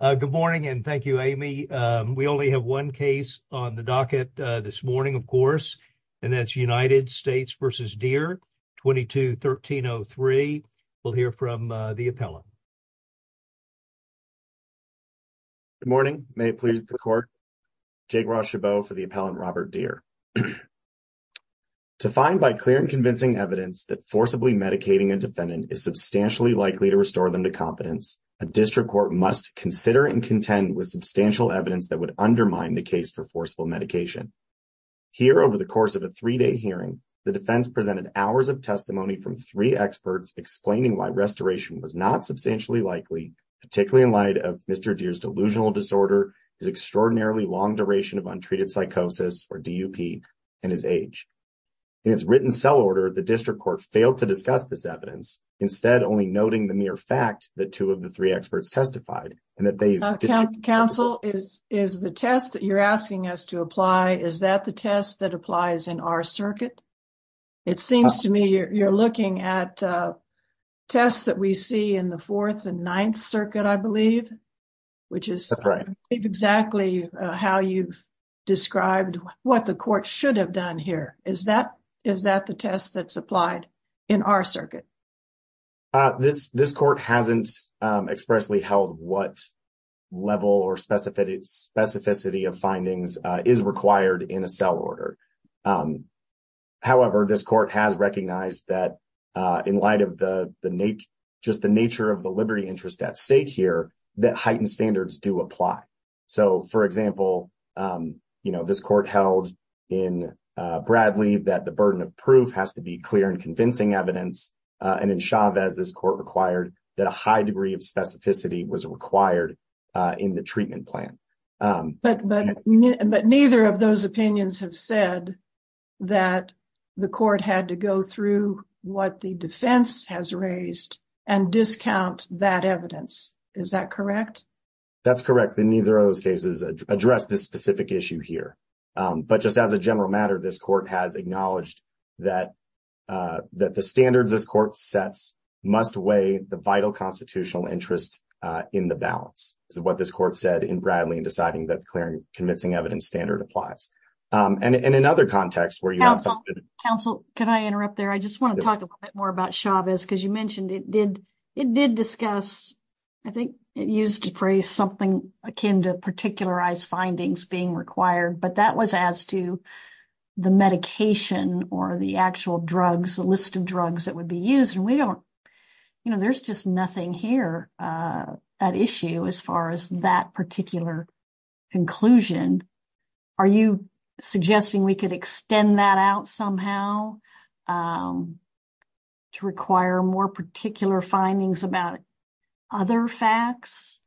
Good morning, and thank you, Amy. We only have one case on the docket this morning, of course, and that's United States v. Deere, 22-1303. We'll hear from the appellant. Good morning. May it please the court. Jake Rochebeau for the appellant Robert Deere. To find by clear and convincing evidence that forcibly medicating a defendant is substantially likely to restore them to competence, a district court must consider and contend with substantial evidence that would undermine the case for forcible medication. Here, over the course of a 3-day hearing, the defense presented hours of testimony from 3 experts explaining why restoration was not substantially likely, particularly in light of Mr. Deere's delusional disorder, his extraordinarily long duration of untreated psychosis, or DUP, and his age. In its written cell order, the district court failed to discuss this evidence, instead only noting the mere fact that 2 of the 3 experts testified, and that they Counsel, is the test that you're asking us to apply, is that the test that applies in our circuit? It seems to me you're looking at tests that we see in the 4th and 9th circuit, I believe, which is That's right. I believe exactly how you've described what the court should have done here. Is that the test that's applied in our circuit? This court hasn't expressly held what level or specificity of findings is required in a cell order. However, this court has recognized that in light of the nature of the liberty interest at stake here, that heightened standards do apply. So, for example, this court held in Bradley that the burden of proof has to be clear and convincing evidence, and in Chavez, this court required that a high degree of specificity was required in the treatment plan. But neither of those opinions have said that the court had to go through what the defense has raised and discount that evidence. Is that correct? That's correct. Neither of those cases address this specific issue here. But just as a general matter, this court has acknowledged that that the standards this court sets must weigh the vital constitutional interest in the balance. This is what this court said in Bradley in deciding that the clear and convincing evidence standard applies. And in another context where you have something... Counsel, can I interrupt there? I just want to talk a bit more about Chavez, because you mentioned it did discuss, I think it used to phrase something akin to particularized findings being required, but that was as to the medication or the actual drugs, the list of drugs that would be used. And we don't, you know, there's just nothing here at issue as far as that particular conclusion. Are you suggesting we could extend that out somehow to require more particular findings about other facts?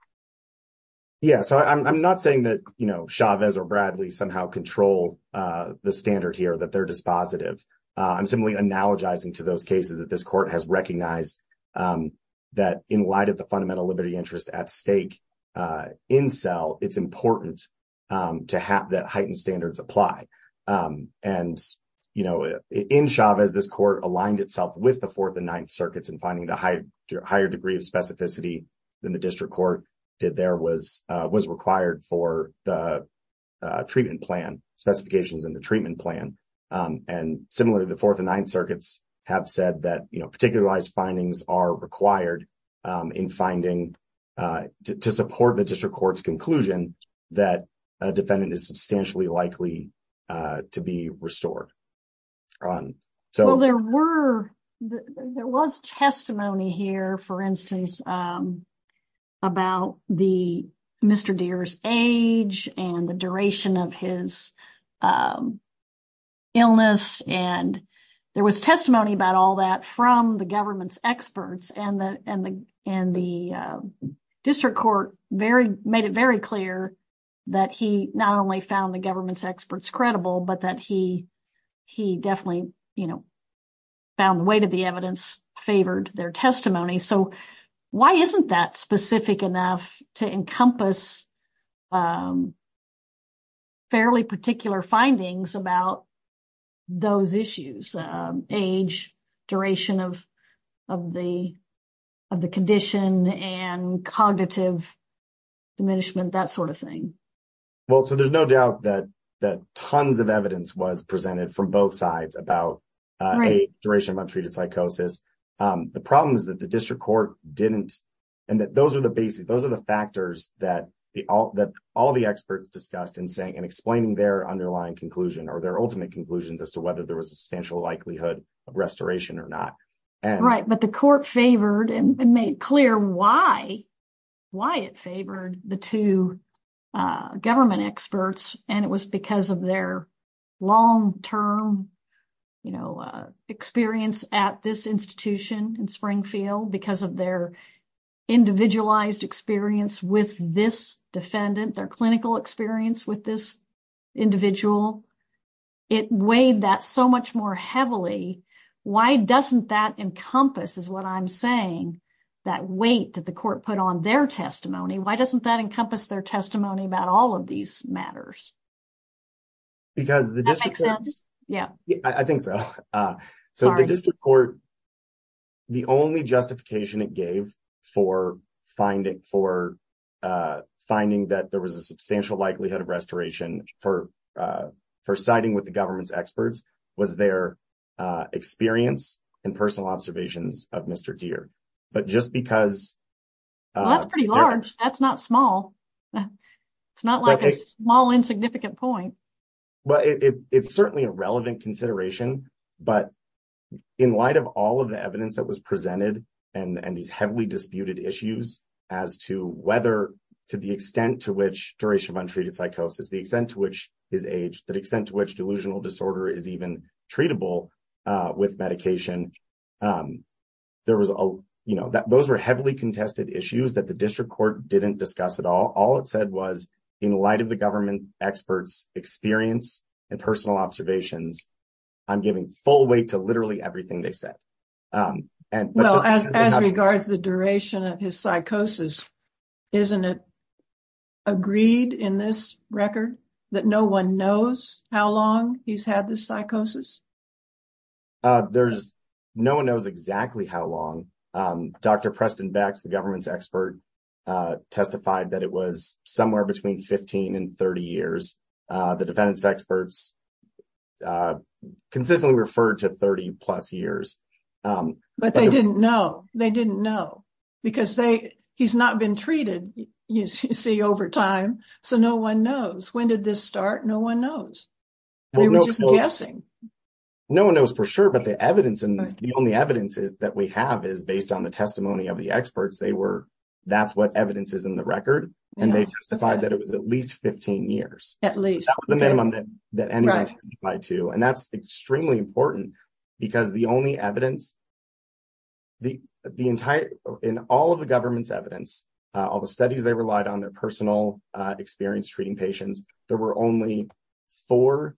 Yeah, so I'm not saying that Chavez or Bradley somehow control the standard here, that they're dispositive. I'm simply analogizing to those cases that this court has recognized that in light of the fundamental liberty interest at stake in SELL, it's important to have that heightened standards apply. And, you know, in Chavez, this court aligned itself with the Fourth and Ninth Circuits in finding the higher degree of specificity than the district court did there was required for the treatment plan, specifications in the treatment plan. And similarly, the Fourth and Ninth Circuits have said that, you know, particularized findings are required in finding, to support the district court's conclusion that a defendant is substantially likely to be restored. Well, there were, there was testimony here, for instance, about the Mr. Deere's age and the duration of his illness. And there was testimony about all that from the government's experts and the district court made it very clear that he not only found the government's experts credible, but that he definitely, you know, found the weight of the evidence favored their testimony. So why isn't that specific enough to encompass fairly particular findings about those issues, age, duration of the condition, and cognitive diminishment, that sort of thing? Well, so there's no doubt that tons of evidence was presented from both sides about age, duration of untreated psychosis. The problem is that the district court didn't, and that those are the basis, those are the factors that all the experts discussed in saying, in explaining their underlying conclusion or their ultimate conclusions as to whether there was a substantial likelihood of restoration or not. Right, but the court favored and made clear why, why it favored the two government experts. And it was because of their long term, you know, experience at this institution in Springfield because of their individualized experience with this defendant, their clinical experience with this individual. It weighed that so much more heavily. Why doesn't that encompass, is what I'm saying, that weight that the court put on their testimony? Why doesn't that encompass their testimony about all of these matters? Because that makes sense. Yeah, I think so. So the district court, the only justification it gave for finding that there was a substantial likelihood of restoration for siding with the government's experts was their experience and personal observations of Mr. Deere. But just because... Well, that's pretty large. That's not small. It's not like a small insignificant point. Well, it's certainly a relevant consideration, but in light of all of the evidence that was presented and these heavily disputed issues as to whether, to the extent to which Doreshavun treated psychosis, the extent to which his age, the extent to which delusional disorder is even treatable with medication. Those were heavily contested issues that the district court didn't discuss at all. All it said was, in light of the government experts' experience and personal observations, I'm giving full weight to literally everything they said. Well, as regards to the duration of his psychosis, isn't it agreed in this record that no one knows how long he's had this psychosis? There's no one knows exactly how long. Dr. Preston Beck, the government's expert, testified that it was somewhere between 15 and 30 years. The defendant's experts consistently referred to 30 plus years. But they didn't know. They didn't know because he's not been treated, you see, over time. So no one knows. When did this start? No one knows. They were just guessing. No one knows for sure, but the evidence and the only evidence that we have is based on the testimony of the experts. They were, that's what evidence is in the record. And they testified that it was at least 15 years. At least. That was the minimum that anyone testified to. And that's extremely important because the only evidence, the entire, in all of the government's evidence, all the studies they relied on their personal experience treating patients, there were only four,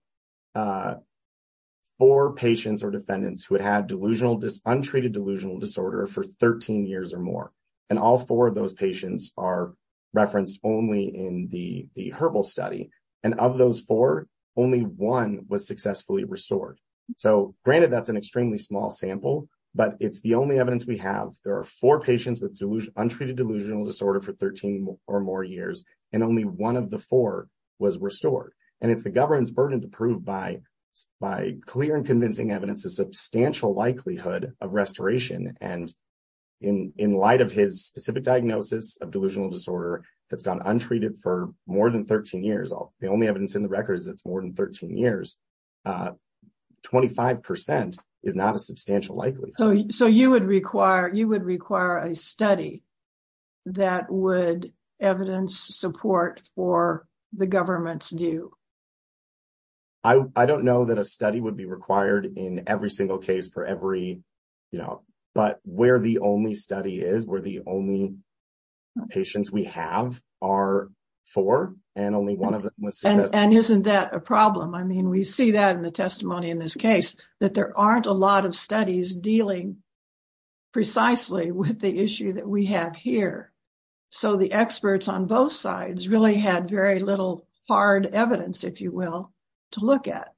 four patients or defendants who had had delusional, untreated delusional disorder for 13 years or more. And all four of those patients are referenced only in the herbal study. And of those four, only one was successfully restored. So granted, that's an extremely small sample, but it's the only evidence we have. There are four patients with untreated delusional disorder for 13 or more years. And only one of the four was restored. And it's the government's burden to prove by clear and convincing evidence, a substantial likelihood of restoration. And in light of his specific diagnosis of delusional disorder, that's gone untreated for more than 13 years. The only evidence in the record is it's more than 13 years. 25% is not a substantial likelihood. So, so you would require, you would require a study that would evidence support for the government's view. I don't know that a study would be required in every single case for every, you know, but where the only study is, where the only. Patients we have are for and only 1 of them was and isn't that a problem? I mean, we see that in the testimony in this case that there aren't a lot of studies dealing. Precisely with the issue that we have here. So the experts on both sides really had very little hard evidence, if you will, to look at.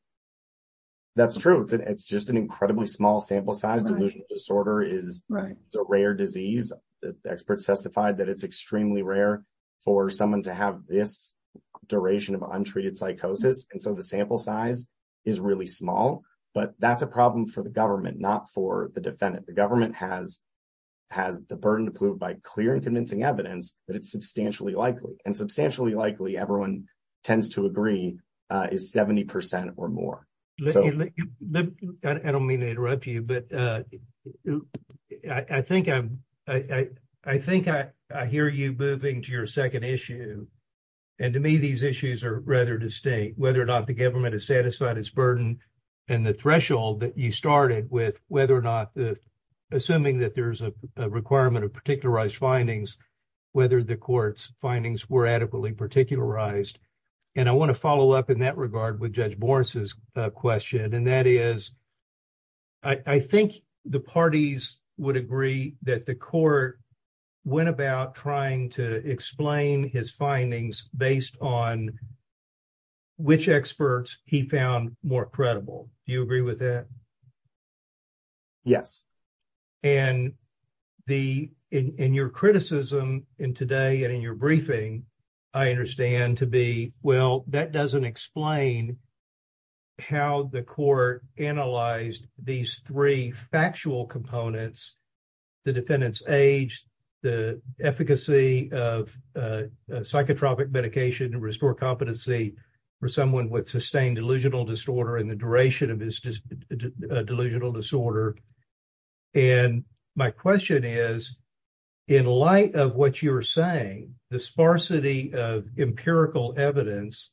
That's true. It's just an incredibly small sample size. Delusional disorder is a rare disease. The experts testified that it's extremely rare for someone to have this duration of untreated psychosis. And so the sample size is really small, but that's a problem for the government, not for the defendant. The government has. Has the burden to prove by clear and convincing evidence that it's substantially likely and substantially likely everyone tends to agree is 70% or more. I don't mean to interrupt you, but I think I'm, I think I hear you moving to your 2nd issue. And to me, these issues are rather distinct, whether or not the government is satisfied its burden. And the threshold that you started with, whether or not. Assuming that there's a requirement of particularized findings. Whether the courts findings were adequately particularized. And I want to follow up in that regard with judge Morris's question and that is. I think the parties would agree that the court. Went about trying to explain his findings based on. Which experts he found more credible. Do you agree with that? Yes, and the in your criticism in today and in your briefing. I understand to be well, that doesn't explain. How the court analyzed these 3 factual components. The defendant's age, the efficacy of psychotropic medication and restore competency for someone with sustained delusional disorder in the duration of his delusional disorder. And my question is. In light of what you're saying, the sparsity of empirical evidence.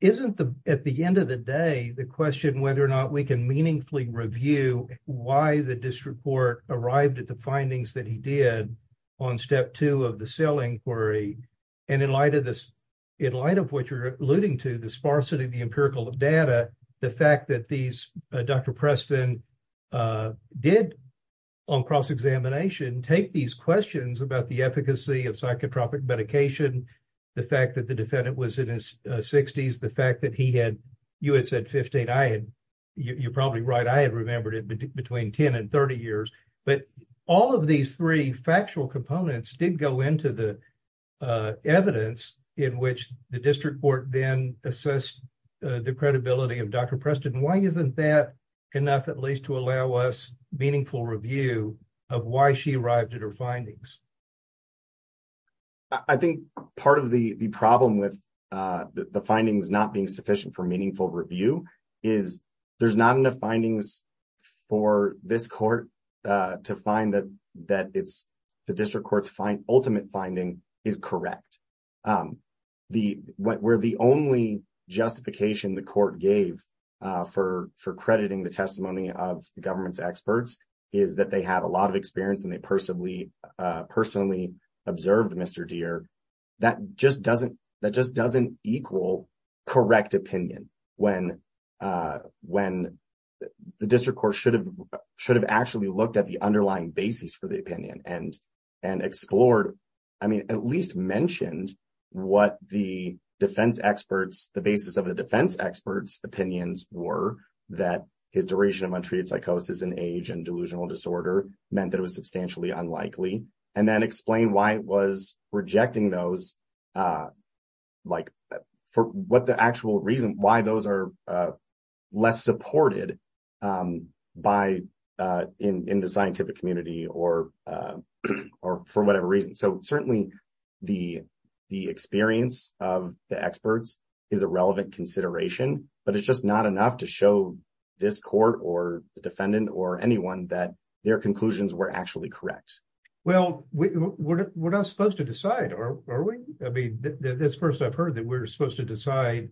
Isn't the, at the end of the day, the question whether or not we can meaningfully review. Why the district court arrived at the findings that he did. On step 2 of the selling query and in light of this. In light of what you're alluding to the sparsity of the empirical data. The fact that these Dr Preston did. On cross examination, take these questions about the efficacy of psychotropic medication. The fact that the defendant was in his 60s, the fact that he had. You had said 15 I had, you're probably right. I had remembered it between 10 and 30 years. But all of these 3 factual components did go into the. Evidence in which the district court then assess. The credibility of Dr Preston. Why isn't that. Enough at least to allow us meaningful review of why she arrived at her findings. I think part of the problem with the findings not being sufficient for meaningful review is. There's not enough findings for this court to find that that it's. The district courts find ultimate finding is correct. The, where the only justification the court gave. For for crediting the testimony of the government's experts. Is that they have a lot of experience and they personally personally. Observed Mr dear. That just doesn't that just doesn't equal. Correct opinion when when the district court should have. Should have actually looked at the underlying basis for the opinion and. And explored, I mean, at least mentioned. What the defense experts, the basis of the defense experts opinions were that. His duration of untreated psychosis and age and delusional disorder meant that it was substantially unlikely. And then explain why it was rejecting those. Like, for what the actual reason why those are. Less supported by in the scientific community or. Or for whatever reason, so certainly. The, the experience of the experts. Is a relevant consideration, but it's just not enough to show. This court or defendant or anyone that. Their conclusions were actually correct. Well, we're not supposed to decide or are we? I mean, this 1st, I've heard that we're supposed to decide.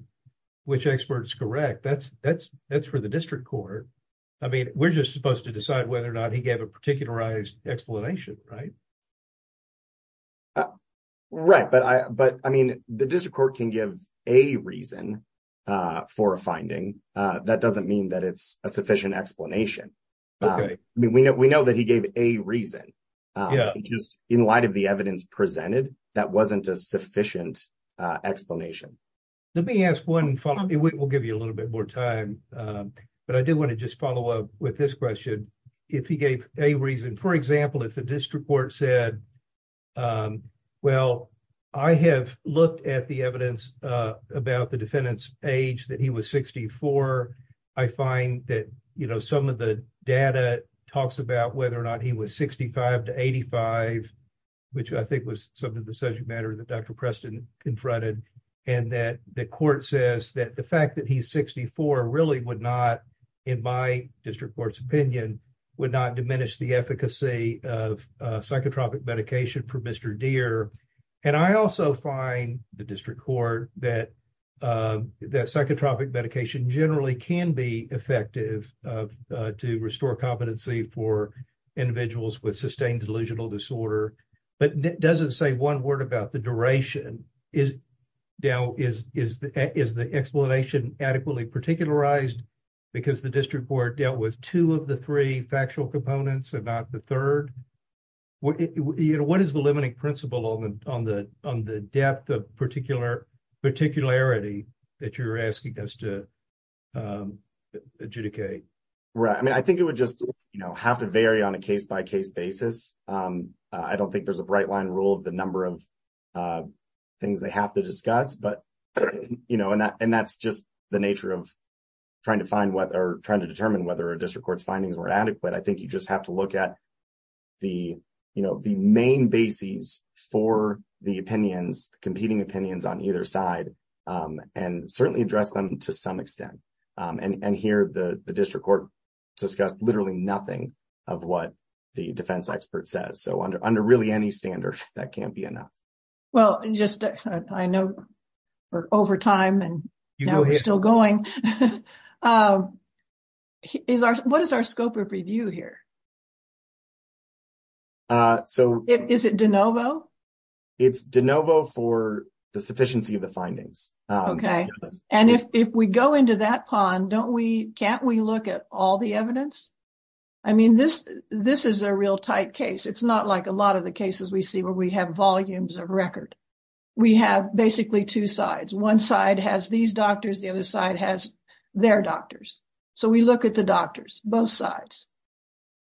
Which experts correct that's that's that's for the district court. I mean, we're just supposed to decide whether or not he gave a particularized explanation. Right. Right. But I, but I mean, the district court can give a reason. For a finding that doesn't mean that it's a sufficient explanation. I mean, we know we know that he gave a reason. Yeah, just in light of the evidence presented. That wasn't a sufficient explanation. Let me ask 1 and we'll give you a little bit more time. But I do want to just follow up with this question. If he gave a reason, for example, if the district court said. Um, well, I have looked at the evidence about the defendant's age that he was 64. I find that, you know, some of the data talks about whether or not he was 65 to 85. Which I think was some of the subject matter that Dr Preston confronted. And that the court says that the fact that he's 64 really would not. In my district court's opinion would not diminish the efficacy of psychotropic medication for Mr deer. And I also find the district court that. That psychotropic medication generally can be effective to restore competency for. Individuals with sustained delusional disorder. But it doesn't say 1 word about the duration is. Now, is, is, is the explanation adequately particularized. Because the district court dealt with 2 of the 3 factual components about the 3rd. What is the limiting principle on the on the on the depth of particular. Particularity that you're asking us to. Adjudicate, right? I mean, I think it would just have to vary on a case by case basis. I don't think there's a bright line rule of the number of. Things they have to discuss, but, you know, and that's just the nature of. Trying to find what are trying to determine whether a district court's findings were adequate. I think you just have to look at. The, you know, the main bases for the opinions competing opinions on either side. And certainly address them to some extent and here the district court. Discussed literally nothing of what the defense expert says. So, under under really any standard that can't be enough. Well, just I know. Or over time, and now we're still going. What is our scope of review here? So, is it DeNovo? It's DeNovo for the sufficiency of the findings. Okay, and if we go into that pond, don't we can't we look at all the evidence. I mean, this this is a real tight case. It's not like a lot of the cases we see where we have volumes of record. We have basically two sides. One side has these doctors. The other side has their doctors. So, we look at the doctors both sides.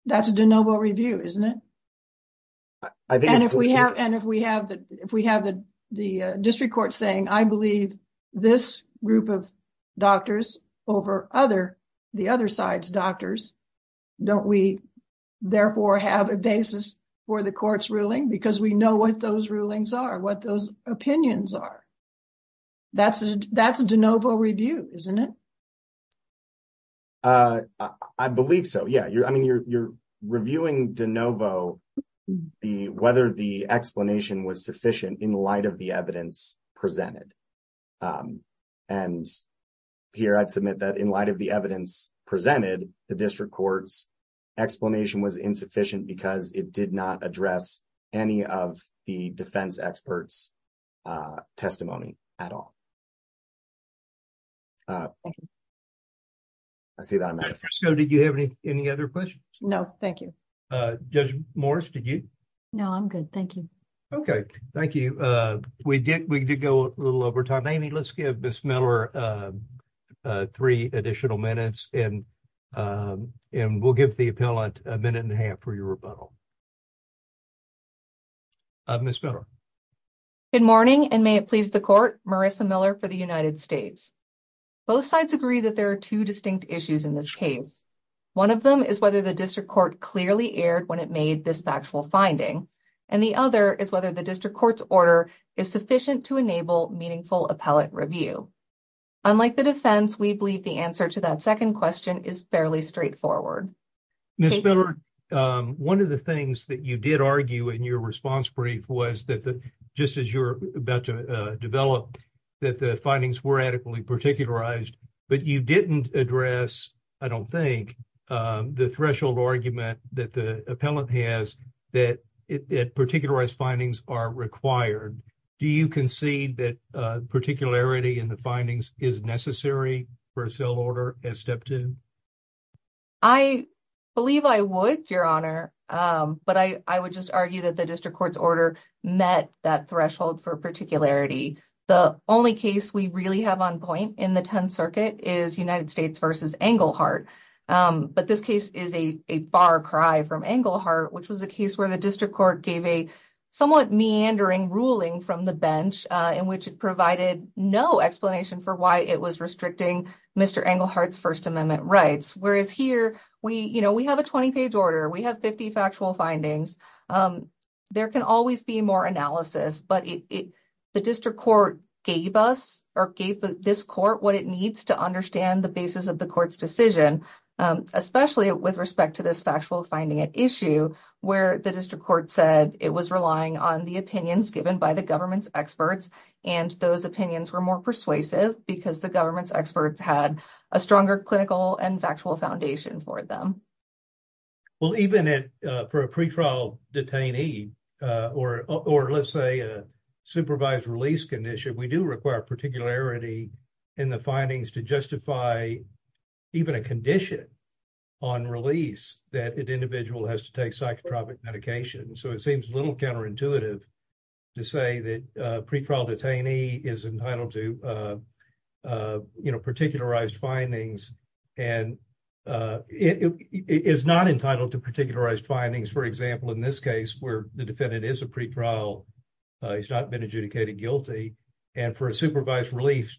That's DeNovo review, isn't it? And if we have and if we have that, if we have the district court saying, I believe this group of doctors over other the other side's doctors. Don't we therefore have a basis for the court's ruling? Because we know what those rulings are, what those opinions are. That's a DeNovo review, isn't it? I believe so. Yeah, I mean, you're reviewing DeNovo. Whether the explanation was sufficient in light of the evidence presented. And here, I'd submit that in light of the evidence presented, the district court's not address any of the defense experts testimony at all. I see that. Did you have any other questions? No, thank you. Judge Morris, did you? No, I'm good. Thank you. Okay, thank you. We did we did go a little over time. Amy, let's give Miss Miller three additional minutes and we'll give the appellant a minute and a half for your rebuttal. Miss Miller. Good morning, and may it please the court, Marissa Miller for the United States. Both sides agree that there are two distinct issues in this case. One of them is whether the district court clearly aired when it made this factual finding. And the other is whether the district court's order is sufficient to enable meaningful appellate review. Unlike the defense, we believe the answer to that second question is fairly straightforward. Miss Miller, one of the things that you did argue in your response brief was that just as you're about to develop that the findings were adequately particularized, but you didn't address, I don't think, the threshold argument that the appellant has that particularized findings are required. Do you concede that particularity in the findings is necessary for a cell order as step two? I believe I would, Your Honor, but I would just argue that the district court's order met that threshold for particularity. The only case we really have on point in the 10th Circuit is United States versus Englehart. But this case is a bar cry from Englehart, which was a case where the district court gave a somewhat meandering ruling from the bench in which it provided no explanation for why it was restricting Mr. Englehart's First Amendment rights. Whereas here, we have a 20-page order. We have 50 factual findings. There can always be more analysis, but the district court gave us or gave this court what it needs to understand the basis of the court's decision, especially with respect to this factual finding issue where the district court said it was relying on the opinions experts had a stronger clinical and factual foundation for them. Well, even for a pretrial detainee, or let's say a supervised release condition, we do require particularity in the findings to justify even a condition on release that an individual has to take psychotropic medication. So it seems a little counterintuitive to say that a pretrial detainee is entitled to particularized findings and is not entitled to particularized findings. For example, in this case, where the defendant is a pretrial, he's not been adjudicated guilty, and for a supervised release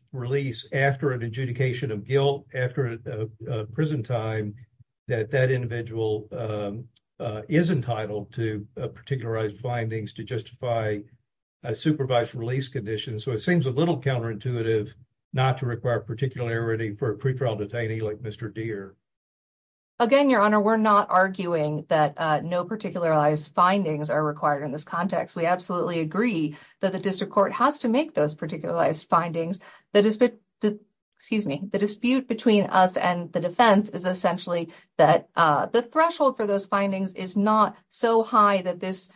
after an adjudication of guilt after a prison time, that that individual is entitled to particularized findings to justify a supervised release condition. So it seems a little counterintuitive not to require particularity for a pretrial detainee like Mr. Deere. Again, Your Honor, we're not arguing that no particularized findings are required in this context. We absolutely agree that the district court has to make those particularized findings. The dispute, excuse me, the dispute between us and the defense is essentially that the threshold for those findings is not so high that this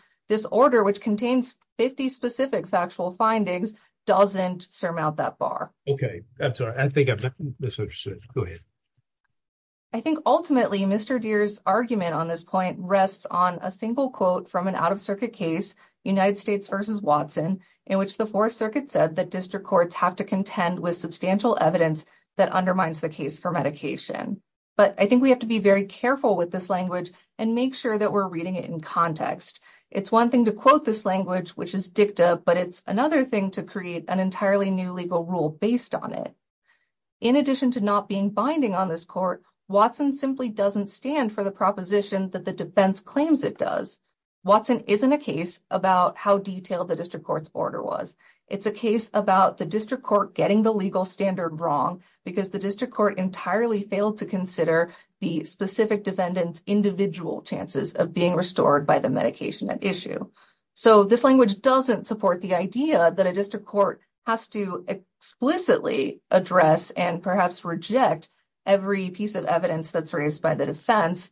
order, which contains 50 specific factual findings, doesn't surmount that bar. Okay. I'm sorry. I think I misunderstood. Go ahead. I think ultimately, Mr. Deere's argument on this point rests on a single quote from an out-of-circuit case, United States v. Watson, in which the Fourth Circuit said that district courts have to contend with substantial evidence that undermines the case for medication. But I think we have to be very careful with this language and make sure that we're reading it in context. It's one thing to quote this language, which is dicta, but it's another thing to create an entirely new legal rule based on it. In addition to not being binding on this court, Watson simply doesn't stand for the proposition that the defense claims it does. Watson isn't a case about how detailed the district court's order was. It's a case about the district court getting the legal standard wrong because the district court entirely failed to consider the specific defendant's individual chances of being restored by the medication at issue. So this language doesn't support the idea that a district court has to explicitly address and perhaps reject every piece of evidence that's raised by the defense.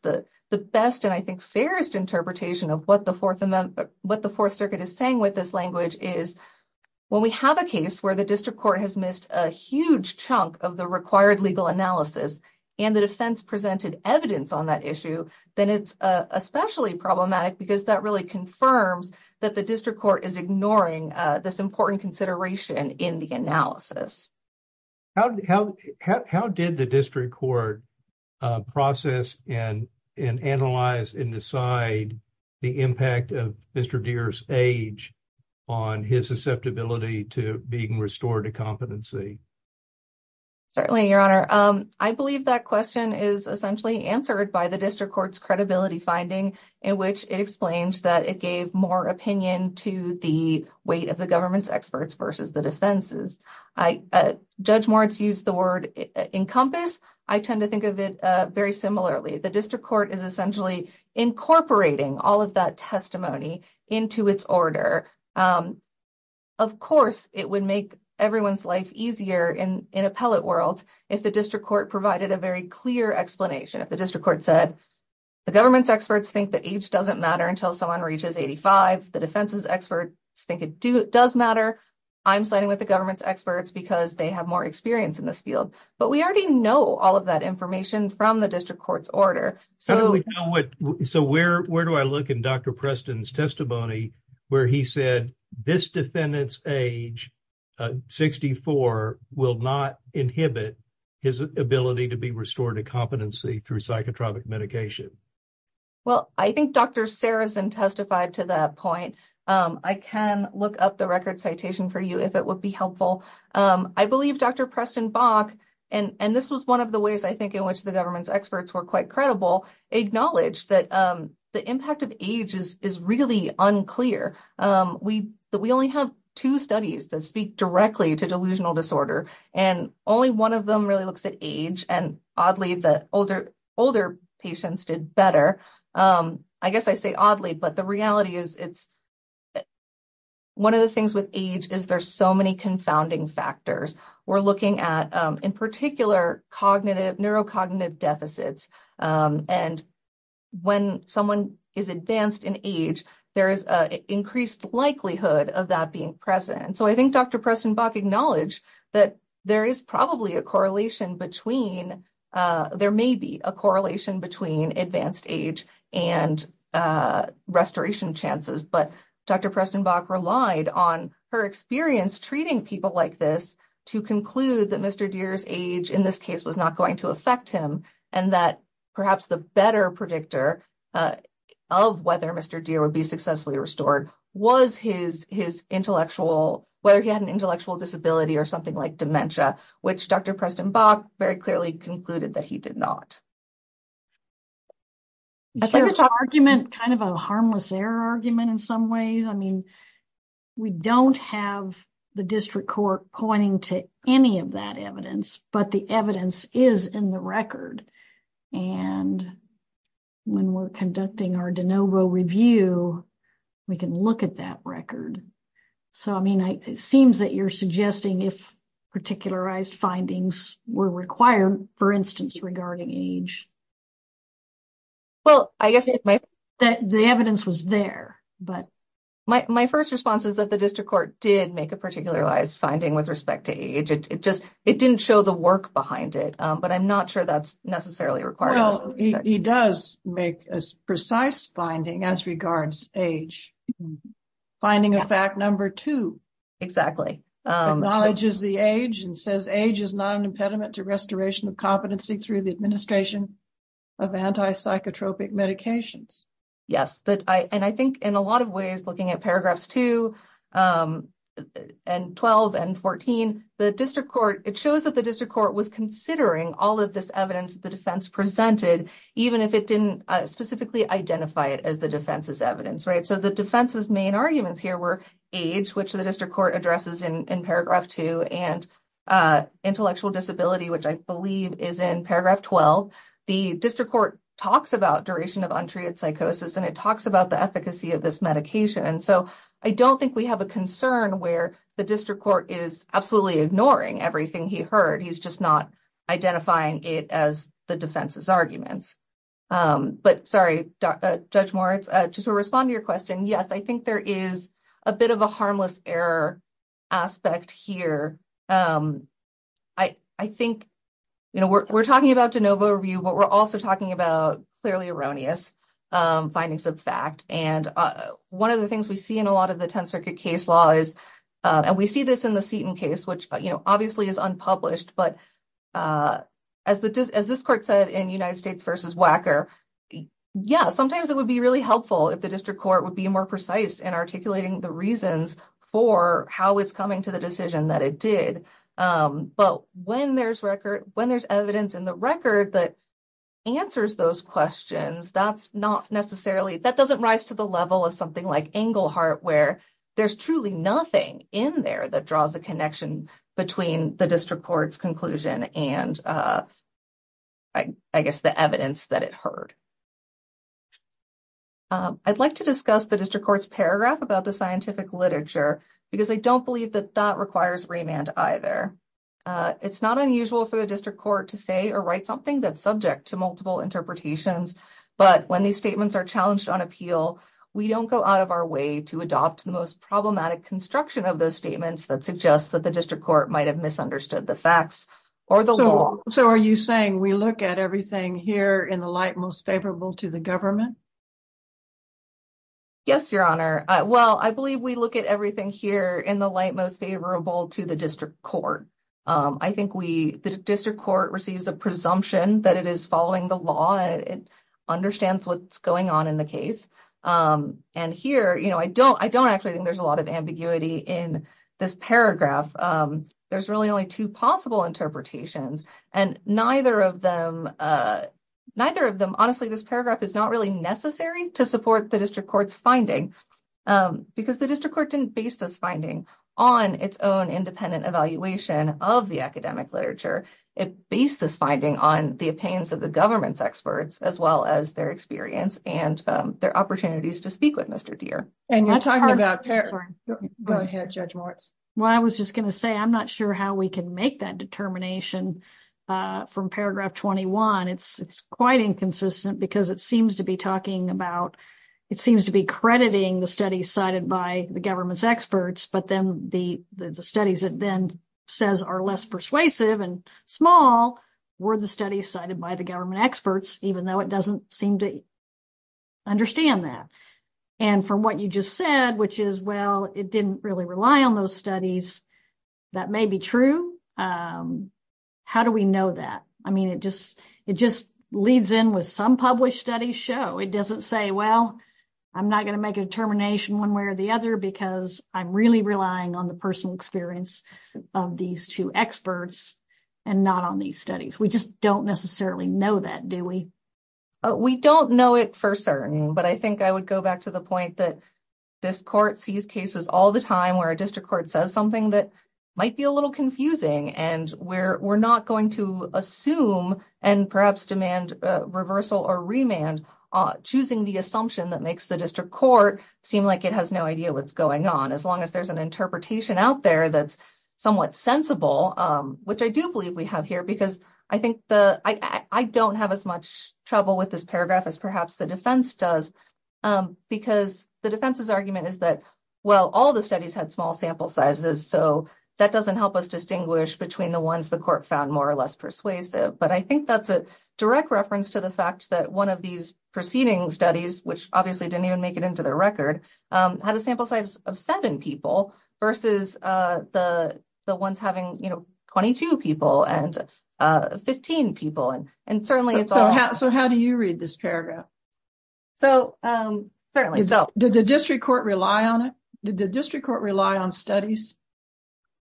The best and, I think, fairest interpretation of what the Fourth Circuit is saying with this language is when we have a case where the district court has missed a huge chunk of the required legal analysis and the defense presented evidence on that issue, then it's especially problematic because that really confirms that the district court is ignoring this important consideration in the analysis. How did the district court process and analyze and decide the impact of Mr. Deere's age on his susceptibility to being restored to competency? Certainly, Your Honor. I believe that question is essentially answered by the district court's credibility finding in which it explains that it gave more opinion to the weight of the government's experts versus the defense's. Judge Moritz used the word encompass. I tend to think of it very similarly. The district court is essentially incorporating all of that testimony into its order. Of course, it would make everyone's life easier in appellate world if the district court provided a very clear explanation. If the district court said, the government's experts think that age doesn't matter until someone reaches 85. The defense's experts think it does matter. I'm signing with the government's experts because they have more experience in this field. But we already know all of that information from the district court's order. So where do I look in Dr. Preston's testimony where he said this defendant's age, 64, will not inhibit his ability to be restored to competency through psychotropic medication? Well, I think Dr. Sarazin testified to that point. I can look up the record citation for you if it would be helpful. I believe Dr. Preston Bach, and this was one of the ways I think in which the government's quite credible, acknowledged that the impact of age is really unclear. We only have two studies that speak directly to delusional disorder, and only one of them really looks at age. And oddly, the older patients did better. I guess I say oddly, but the reality is one of the things with age is there's so many confounding factors. We're looking at, in particular, cognitive, neurocognitive deficits. And when someone is advanced in age, there is an increased likelihood of that being present. So I think Dr. Preston Bach acknowledged that there is probably a correlation between, there may be a correlation between advanced age and restoration chances. But Dr. Preston Bach relied on her experience treating people like this to conclude that Mr. Deere's age in this case was not going to affect him, and that perhaps the better predictor of whether Mr. Deere would be successfully restored was his intellectual, whether he had an intellectual disability or something like dementia, which Dr. Preston Bach very clearly concluded that he did not. I think it's an argument, kind of a harmless error argument in some ways. I mean, we don't have the district court pointing to any of that evidence, but the evidence is in the record. And when we're conducting our de novo review, we can look at that record. So, I mean, it seems that you're suggesting if particularized findings were required, for instance, regarding age. Well, I guess the evidence was there. But my first response is that the district court did make a particularized finding with respect to age. It just, it didn't show the work behind it. But I'm not sure that's necessarily required. Well, he does make a precise finding as regards age. Finding of fact number two. Exactly. Acknowledges the age and says age is not an impediment to restoration of competency through the administration of anti-psychotropic medications. Yes, and I think in a lot of ways, looking at paragraphs two and twelve and fourteen, the district court, it shows that the district court was considering all of this evidence the defense presented, even if it didn't specifically identify it as the defense's evidence, right? The defense's main arguments here were age, which the district court addresses in paragraph two, and intellectual disability, which I believe is in paragraph twelve. The district court talks about duration of untreated psychosis and it talks about the efficacy of this medication. So, I don't think we have a concern where the district court is absolutely ignoring everything he heard. He's just not identifying it as the defense's arguments. But sorry, Judge Moritz, just to respond to your question, yes, I think there is a bit of a harmless error aspect here. I think, you know, we're talking about de novo review, but we're also talking about clearly erroneous findings of fact. And one of the things we see in a lot of the Tenth Circuit case law is, and we see this in the Seton case, which, you know, obviously is unpublished. But as this court said in United States v. Wacker, yeah, sometimes it would be really helpful if the district court would be more precise in articulating the reasons for how it's coming to the decision that it did. But when there's evidence in the record that answers those questions, that doesn't rise to the level of something like Englehart, where there's truly nothing in there that and I guess the evidence that it heard. I'd like to discuss the district court's paragraph about the scientific literature, because I don't believe that that requires remand either. It's not unusual for the district court to say or write something that's subject to multiple interpretations. But when these statements are challenged on appeal, we don't go out of our way to adopt the most problematic construction of those statements that suggests that the district court might have misunderstood the facts or the law. So are you saying we look at everything here in the light most favorable to the government? Yes, Your Honor. Well, I believe we look at everything here in the light most favorable to the district court. I think the district court receives a presumption that it is following the law and understands what's going on in the case. And here, you know, I don't I don't actually think there's a lot of ambiguity in this paragraph. There's really only two possible interpretations, and neither of them, neither of them, honestly, this paragraph is not really necessary to support the district court's finding, because the district court didn't base this finding on its own independent evaluation of the academic literature. It based this finding on the opinions of the government's experts as well as their experience and their opportunities to speak with Mr. Deere. And you're talking about. Go ahead, Judge Moritz. Well, I was just going to say, I'm not sure how we can make that determination from paragraph 21. It's quite inconsistent because it seems to be talking about it seems to be crediting the study cited by the government's experts. But then the studies that then says are less persuasive and small were the studies cited by the government experts, even though it doesn't seem to understand that. And from what you just said, which is, well, it didn't really rely on those studies. That may be true. How do we know that? I mean, it just it just leads in with some published studies show it doesn't say, well, I'm not going to make a determination one way or the other because I'm really relying on the personal experience of these two experts and not on these studies. We just don't necessarily know that, do we? We don't know it for certain, but I think I would go back to the point that this court sees cases all the time where a district court says something that might be a little confusing and we're not going to assume and perhaps demand reversal or remand choosing the assumption that makes the district court seem like it has no idea what's going on as long as there's an interpretation out there that's somewhat sensible, which I do believe we have here because I think the I don't have as much trouble with this paragraph as perhaps the defense does, because the defense's argument is that, well, all the studies had small sample sizes, so that doesn't help us distinguish between the ones the court found more or less persuasive. But I think that's a direct reference to the fact that one of these preceding studies, which obviously didn't even make it into the record, had a sample size of seven people versus the ones having 22 people and 15 people. So how do you read this paragraph? Did the district court rely on it? Did the district court rely on studies?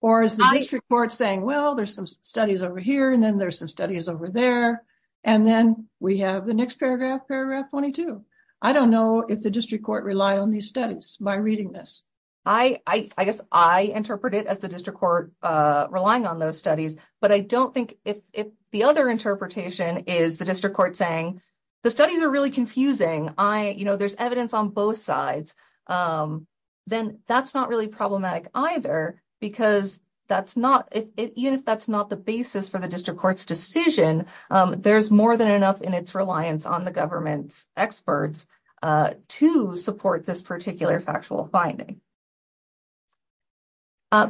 Or is the district court saying, well, there's some studies over here, and then there's some studies over there, and then we have the next paragraph, paragraph 22? I don't know if the district court relied on these studies by reading this. I guess I interpret it as the district court relying on those studies, but I don't think if the other interpretation is the district court saying, the studies are really confusing, there's evidence on both sides, then that's not really problematic either, because even if that's not the basis for the district court's decision, there's more than enough in its reliance on the government's experts to support this particular factual finding.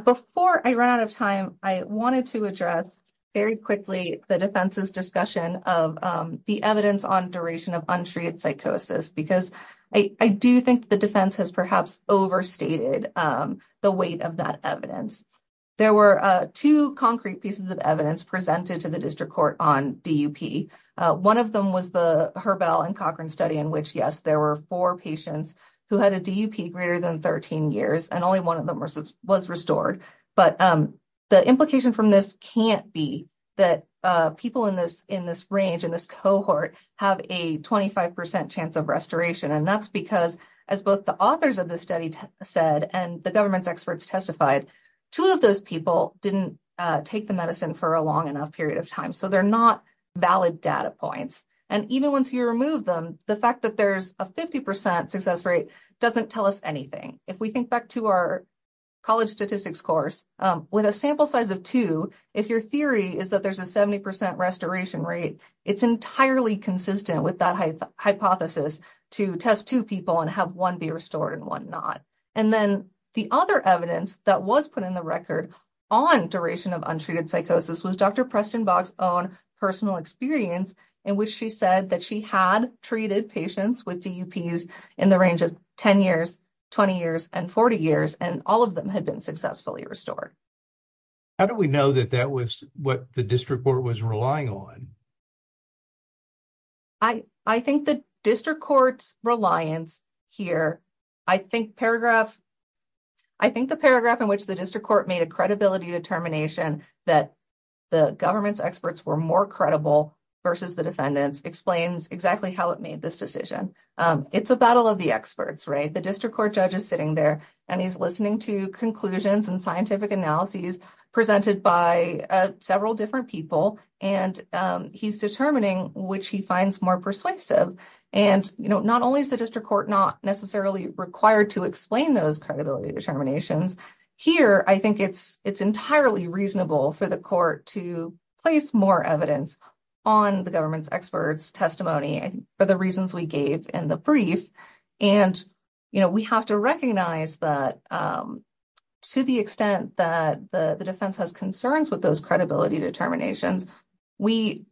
Before I run out of time, I wanted to address very quickly the defense's discussion of the evidence on duration of untreated psychosis, because I do think the defense has perhaps overstated the weight of that evidence. There were two concrete pieces of evidence presented to the district court on DUP. One of them was the Herbell and Cochran study in which, yes, there were four patients who had a DUP greater than 13 years, and only one of them was restored, but the implication from this can't be that people in this range, in this cohort, have a 25% chance of restoration, and that's because, as both the authors of the study said and the government's experts testified, two of those people didn't take the medicine for a long enough period of time, so they're not valid data points, and even once you remove them, the fact that there's a 50% success rate doesn't tell us anything. If we think back to our college statistics course, with a sample size of two, if your theory is that there's a 70% restoration rate, it's entirely consistent with that hypothesis to test two people and have one be restored and one not. And then the other evidence that was put in the record on duration of untreated psychosis was Dr. Preston Boggs' own personal experience in which she said that she had treated patients with DUPs in the range of 10 years, 20 years, and 40 years, and all of them had been successfully restored. How do we know that that was what the district court was relying on? I think the district court's reliance here, I think paragraph, I think the paragraph in which the district court made a credibility determination that the government's experts were more credible versus the defendants explains exactly how it made this decision. It's a battle of the experts, right? The district court judge is sitting there, and he's listening to conclusions and scientific analyses presented by several different people, and he's determining which he finds more persuasive. And not only is the district court not necessarily required to explain those credibility determinations, here, I think it's entirely reasonable for the court to place more evidence on the government's experts' testimony for the reasons we gave in the brief. And we have to recognize that to the extent that the defense has concerns with those credibility determinations, we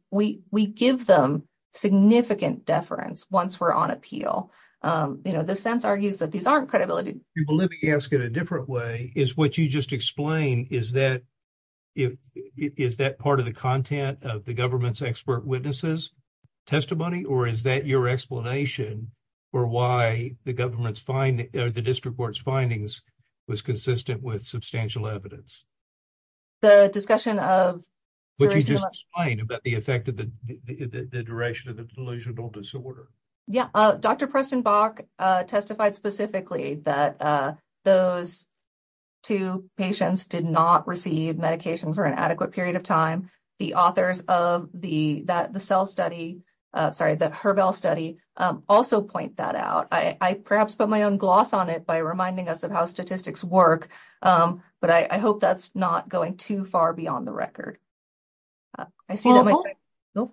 give them significant deference once we're on appeal. The defense argues that these aren't credibility. Well, let me ask it a different way. Is what you just explained, is that part of the content of the government's expert witnesses' testimony, or is that your explanation for why the district court's findings was consistent with substantial evidence? The discussion of... What you just explained about the effect of the duration of the delusional disorder. Yeah. Dr. Preston Bach testified specifically that those two patients did not receive medication for an adequate period of time. The authors of the cell study, sorry, the HERBEL study, also point that out. I perhaps put my own gloss on it by reminding us of how statistics work, but I hope that's not going too far beyond the record. I see that...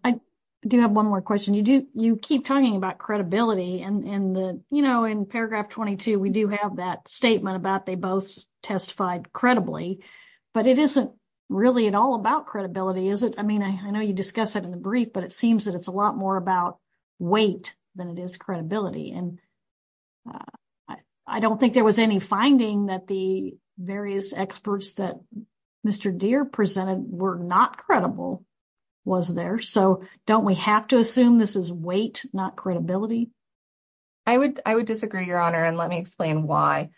I do have one more question. You keep talking about credibility, and in paragraph 22, we do have that statement about they both testified credibly, but it isn't really at all about credibility, is it? I mean, I know you discuss it in the brief, but it seems that it's a lot more about weight than it is credibility. And I don't think there was any finding that the various experts that Mr. Deere presented were not credible, was there? So don't we have to assume this is weight, not credibility? I would disagree, Your Honor, and let me explain why.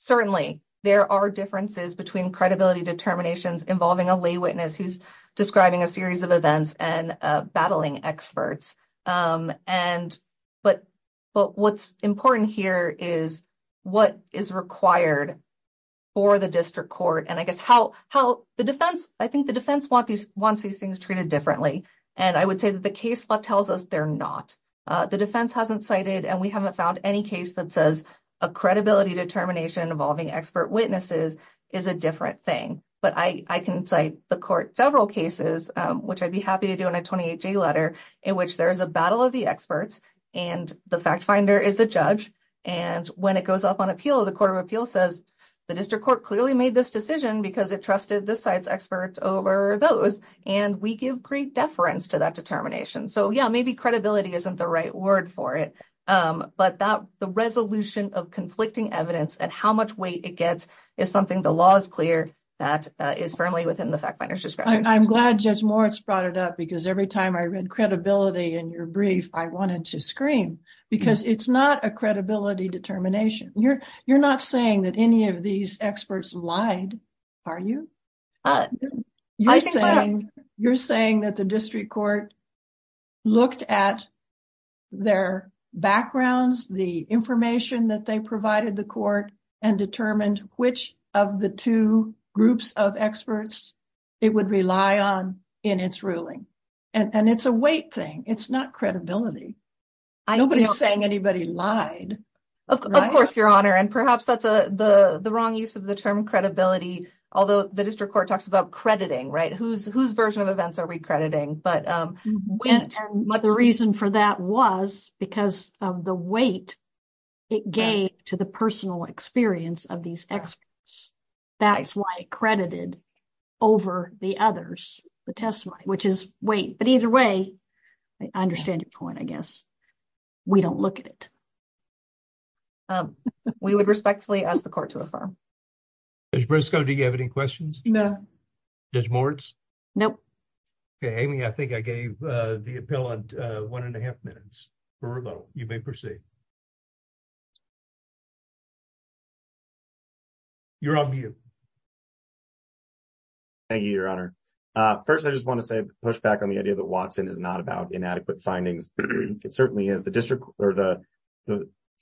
Certainly, there are differences between credibility determinations involving a lay witness who's describing a series of events and battling experts. But what's important here is what is required for the district court, and I guess how the defense wants these things treated differently, and I would say that the case law tells us they're not. The defense hasn't cited, and we haven't found any case that says a credibility determination involving expert witnesses is a different thing. But I can cite the court several cases, which I'd be happy to do in a 28-G letter, in which there is a battle of the experts, and the fact finder is a judge, and when it goes up on appeal, the court of appeal says the district court clearly made this decision because it and we give great deference to that determination. So yeah, maybe credibility isn't the right word for it, but the resolution of conflicting evidence and how much weight it gets is something the law is clear that is firmly within the fact finder's discretion. I'm glad Judge Moritz brought it up, because every time I read credibility in your brief, I wanted to scream, because it's not a credibility determination. You're not saying that any of these experts lied, are you? I think what I'm- You're saying that the district court looked at their backgrounds, the information that they provided the court, and determined which of the two groups of experts it would rely on in its ruling. And it's a weight thing. It's not credibility. Nobody's saying anybody lied. Of course, Your Honor, and perhaps that's the wrong use of the term credibility, although the district court talks about crediting, right? Whose version of events are we crediting? But the reason for that was because of the weight it gave to the personal experience of these experts. That's why it credited over the others, the testimony, which is weight. But either way, I understand your point, I guess. We don't look at it. We would respectfully ask the court to affirm. Judge Briscoe, do you have any questions? No. Judge Moritz? Nope. Okay, Amy, I think I gave the appeal one and a half minutes. Verbal, you may proceed. You're on mute. Thank you, Your Honor. First, I just want to say, push back on the idea that Watson is not about inadequate findings. It certainly is. The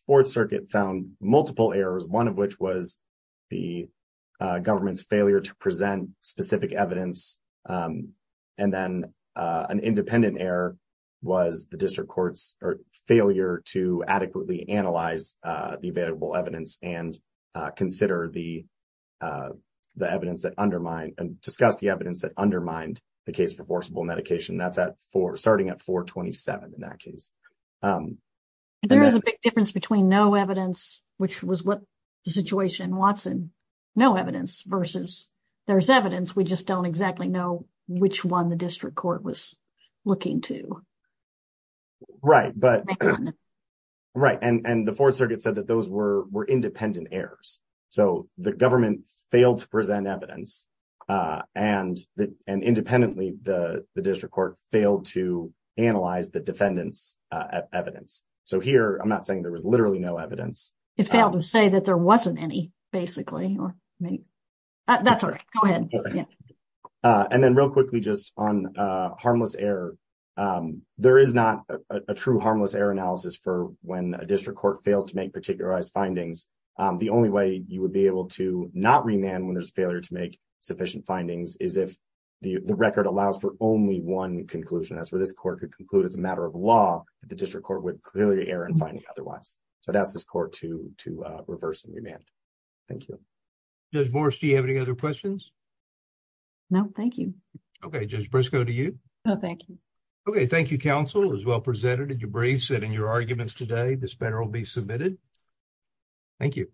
Fourth Circuit found multiple errors, one of which was the government's failure to present specific evidence, and then an independent error was the district court's failure to adequately analyze the available evidence and discuss the evidence that undermined the case for forcible medication. Starting at 427 in that case. There is a big difference between no evidence, which was what the situation in Watson, no evidence, versus there's evidence, we just don't exactly know which one the district court was looking to. Right, and the Fourth Circuit said that those were independent errors. So the government failed to present evidence, and independently, the district court failed to analyze the defendant's evidence. So here, I'm not saying there was literally no evidence. It failed to say that there wasn't any, basically. That's all right, go ahead. And then real quickly, just on harmless error. There is not a true harmless error analysis for when a district court fails to make particularized findings. The only way you would be able to not remand when there's failure to make sufficient findings is if the record allows for only one conclusion. That's where this court could conclude, as a matter of law, that the district court would clearly err in finding otherwise. So I'd ask this court to reverse and remand. Thank you. Judge Morris, do you have any other questions? No, thank you. Okay, Judge Briscoe, to you. No, thank you. Okay, thank you, counsel. It was well presented. Did you brace it in your arguments today? This matter will be submitted. Thank you.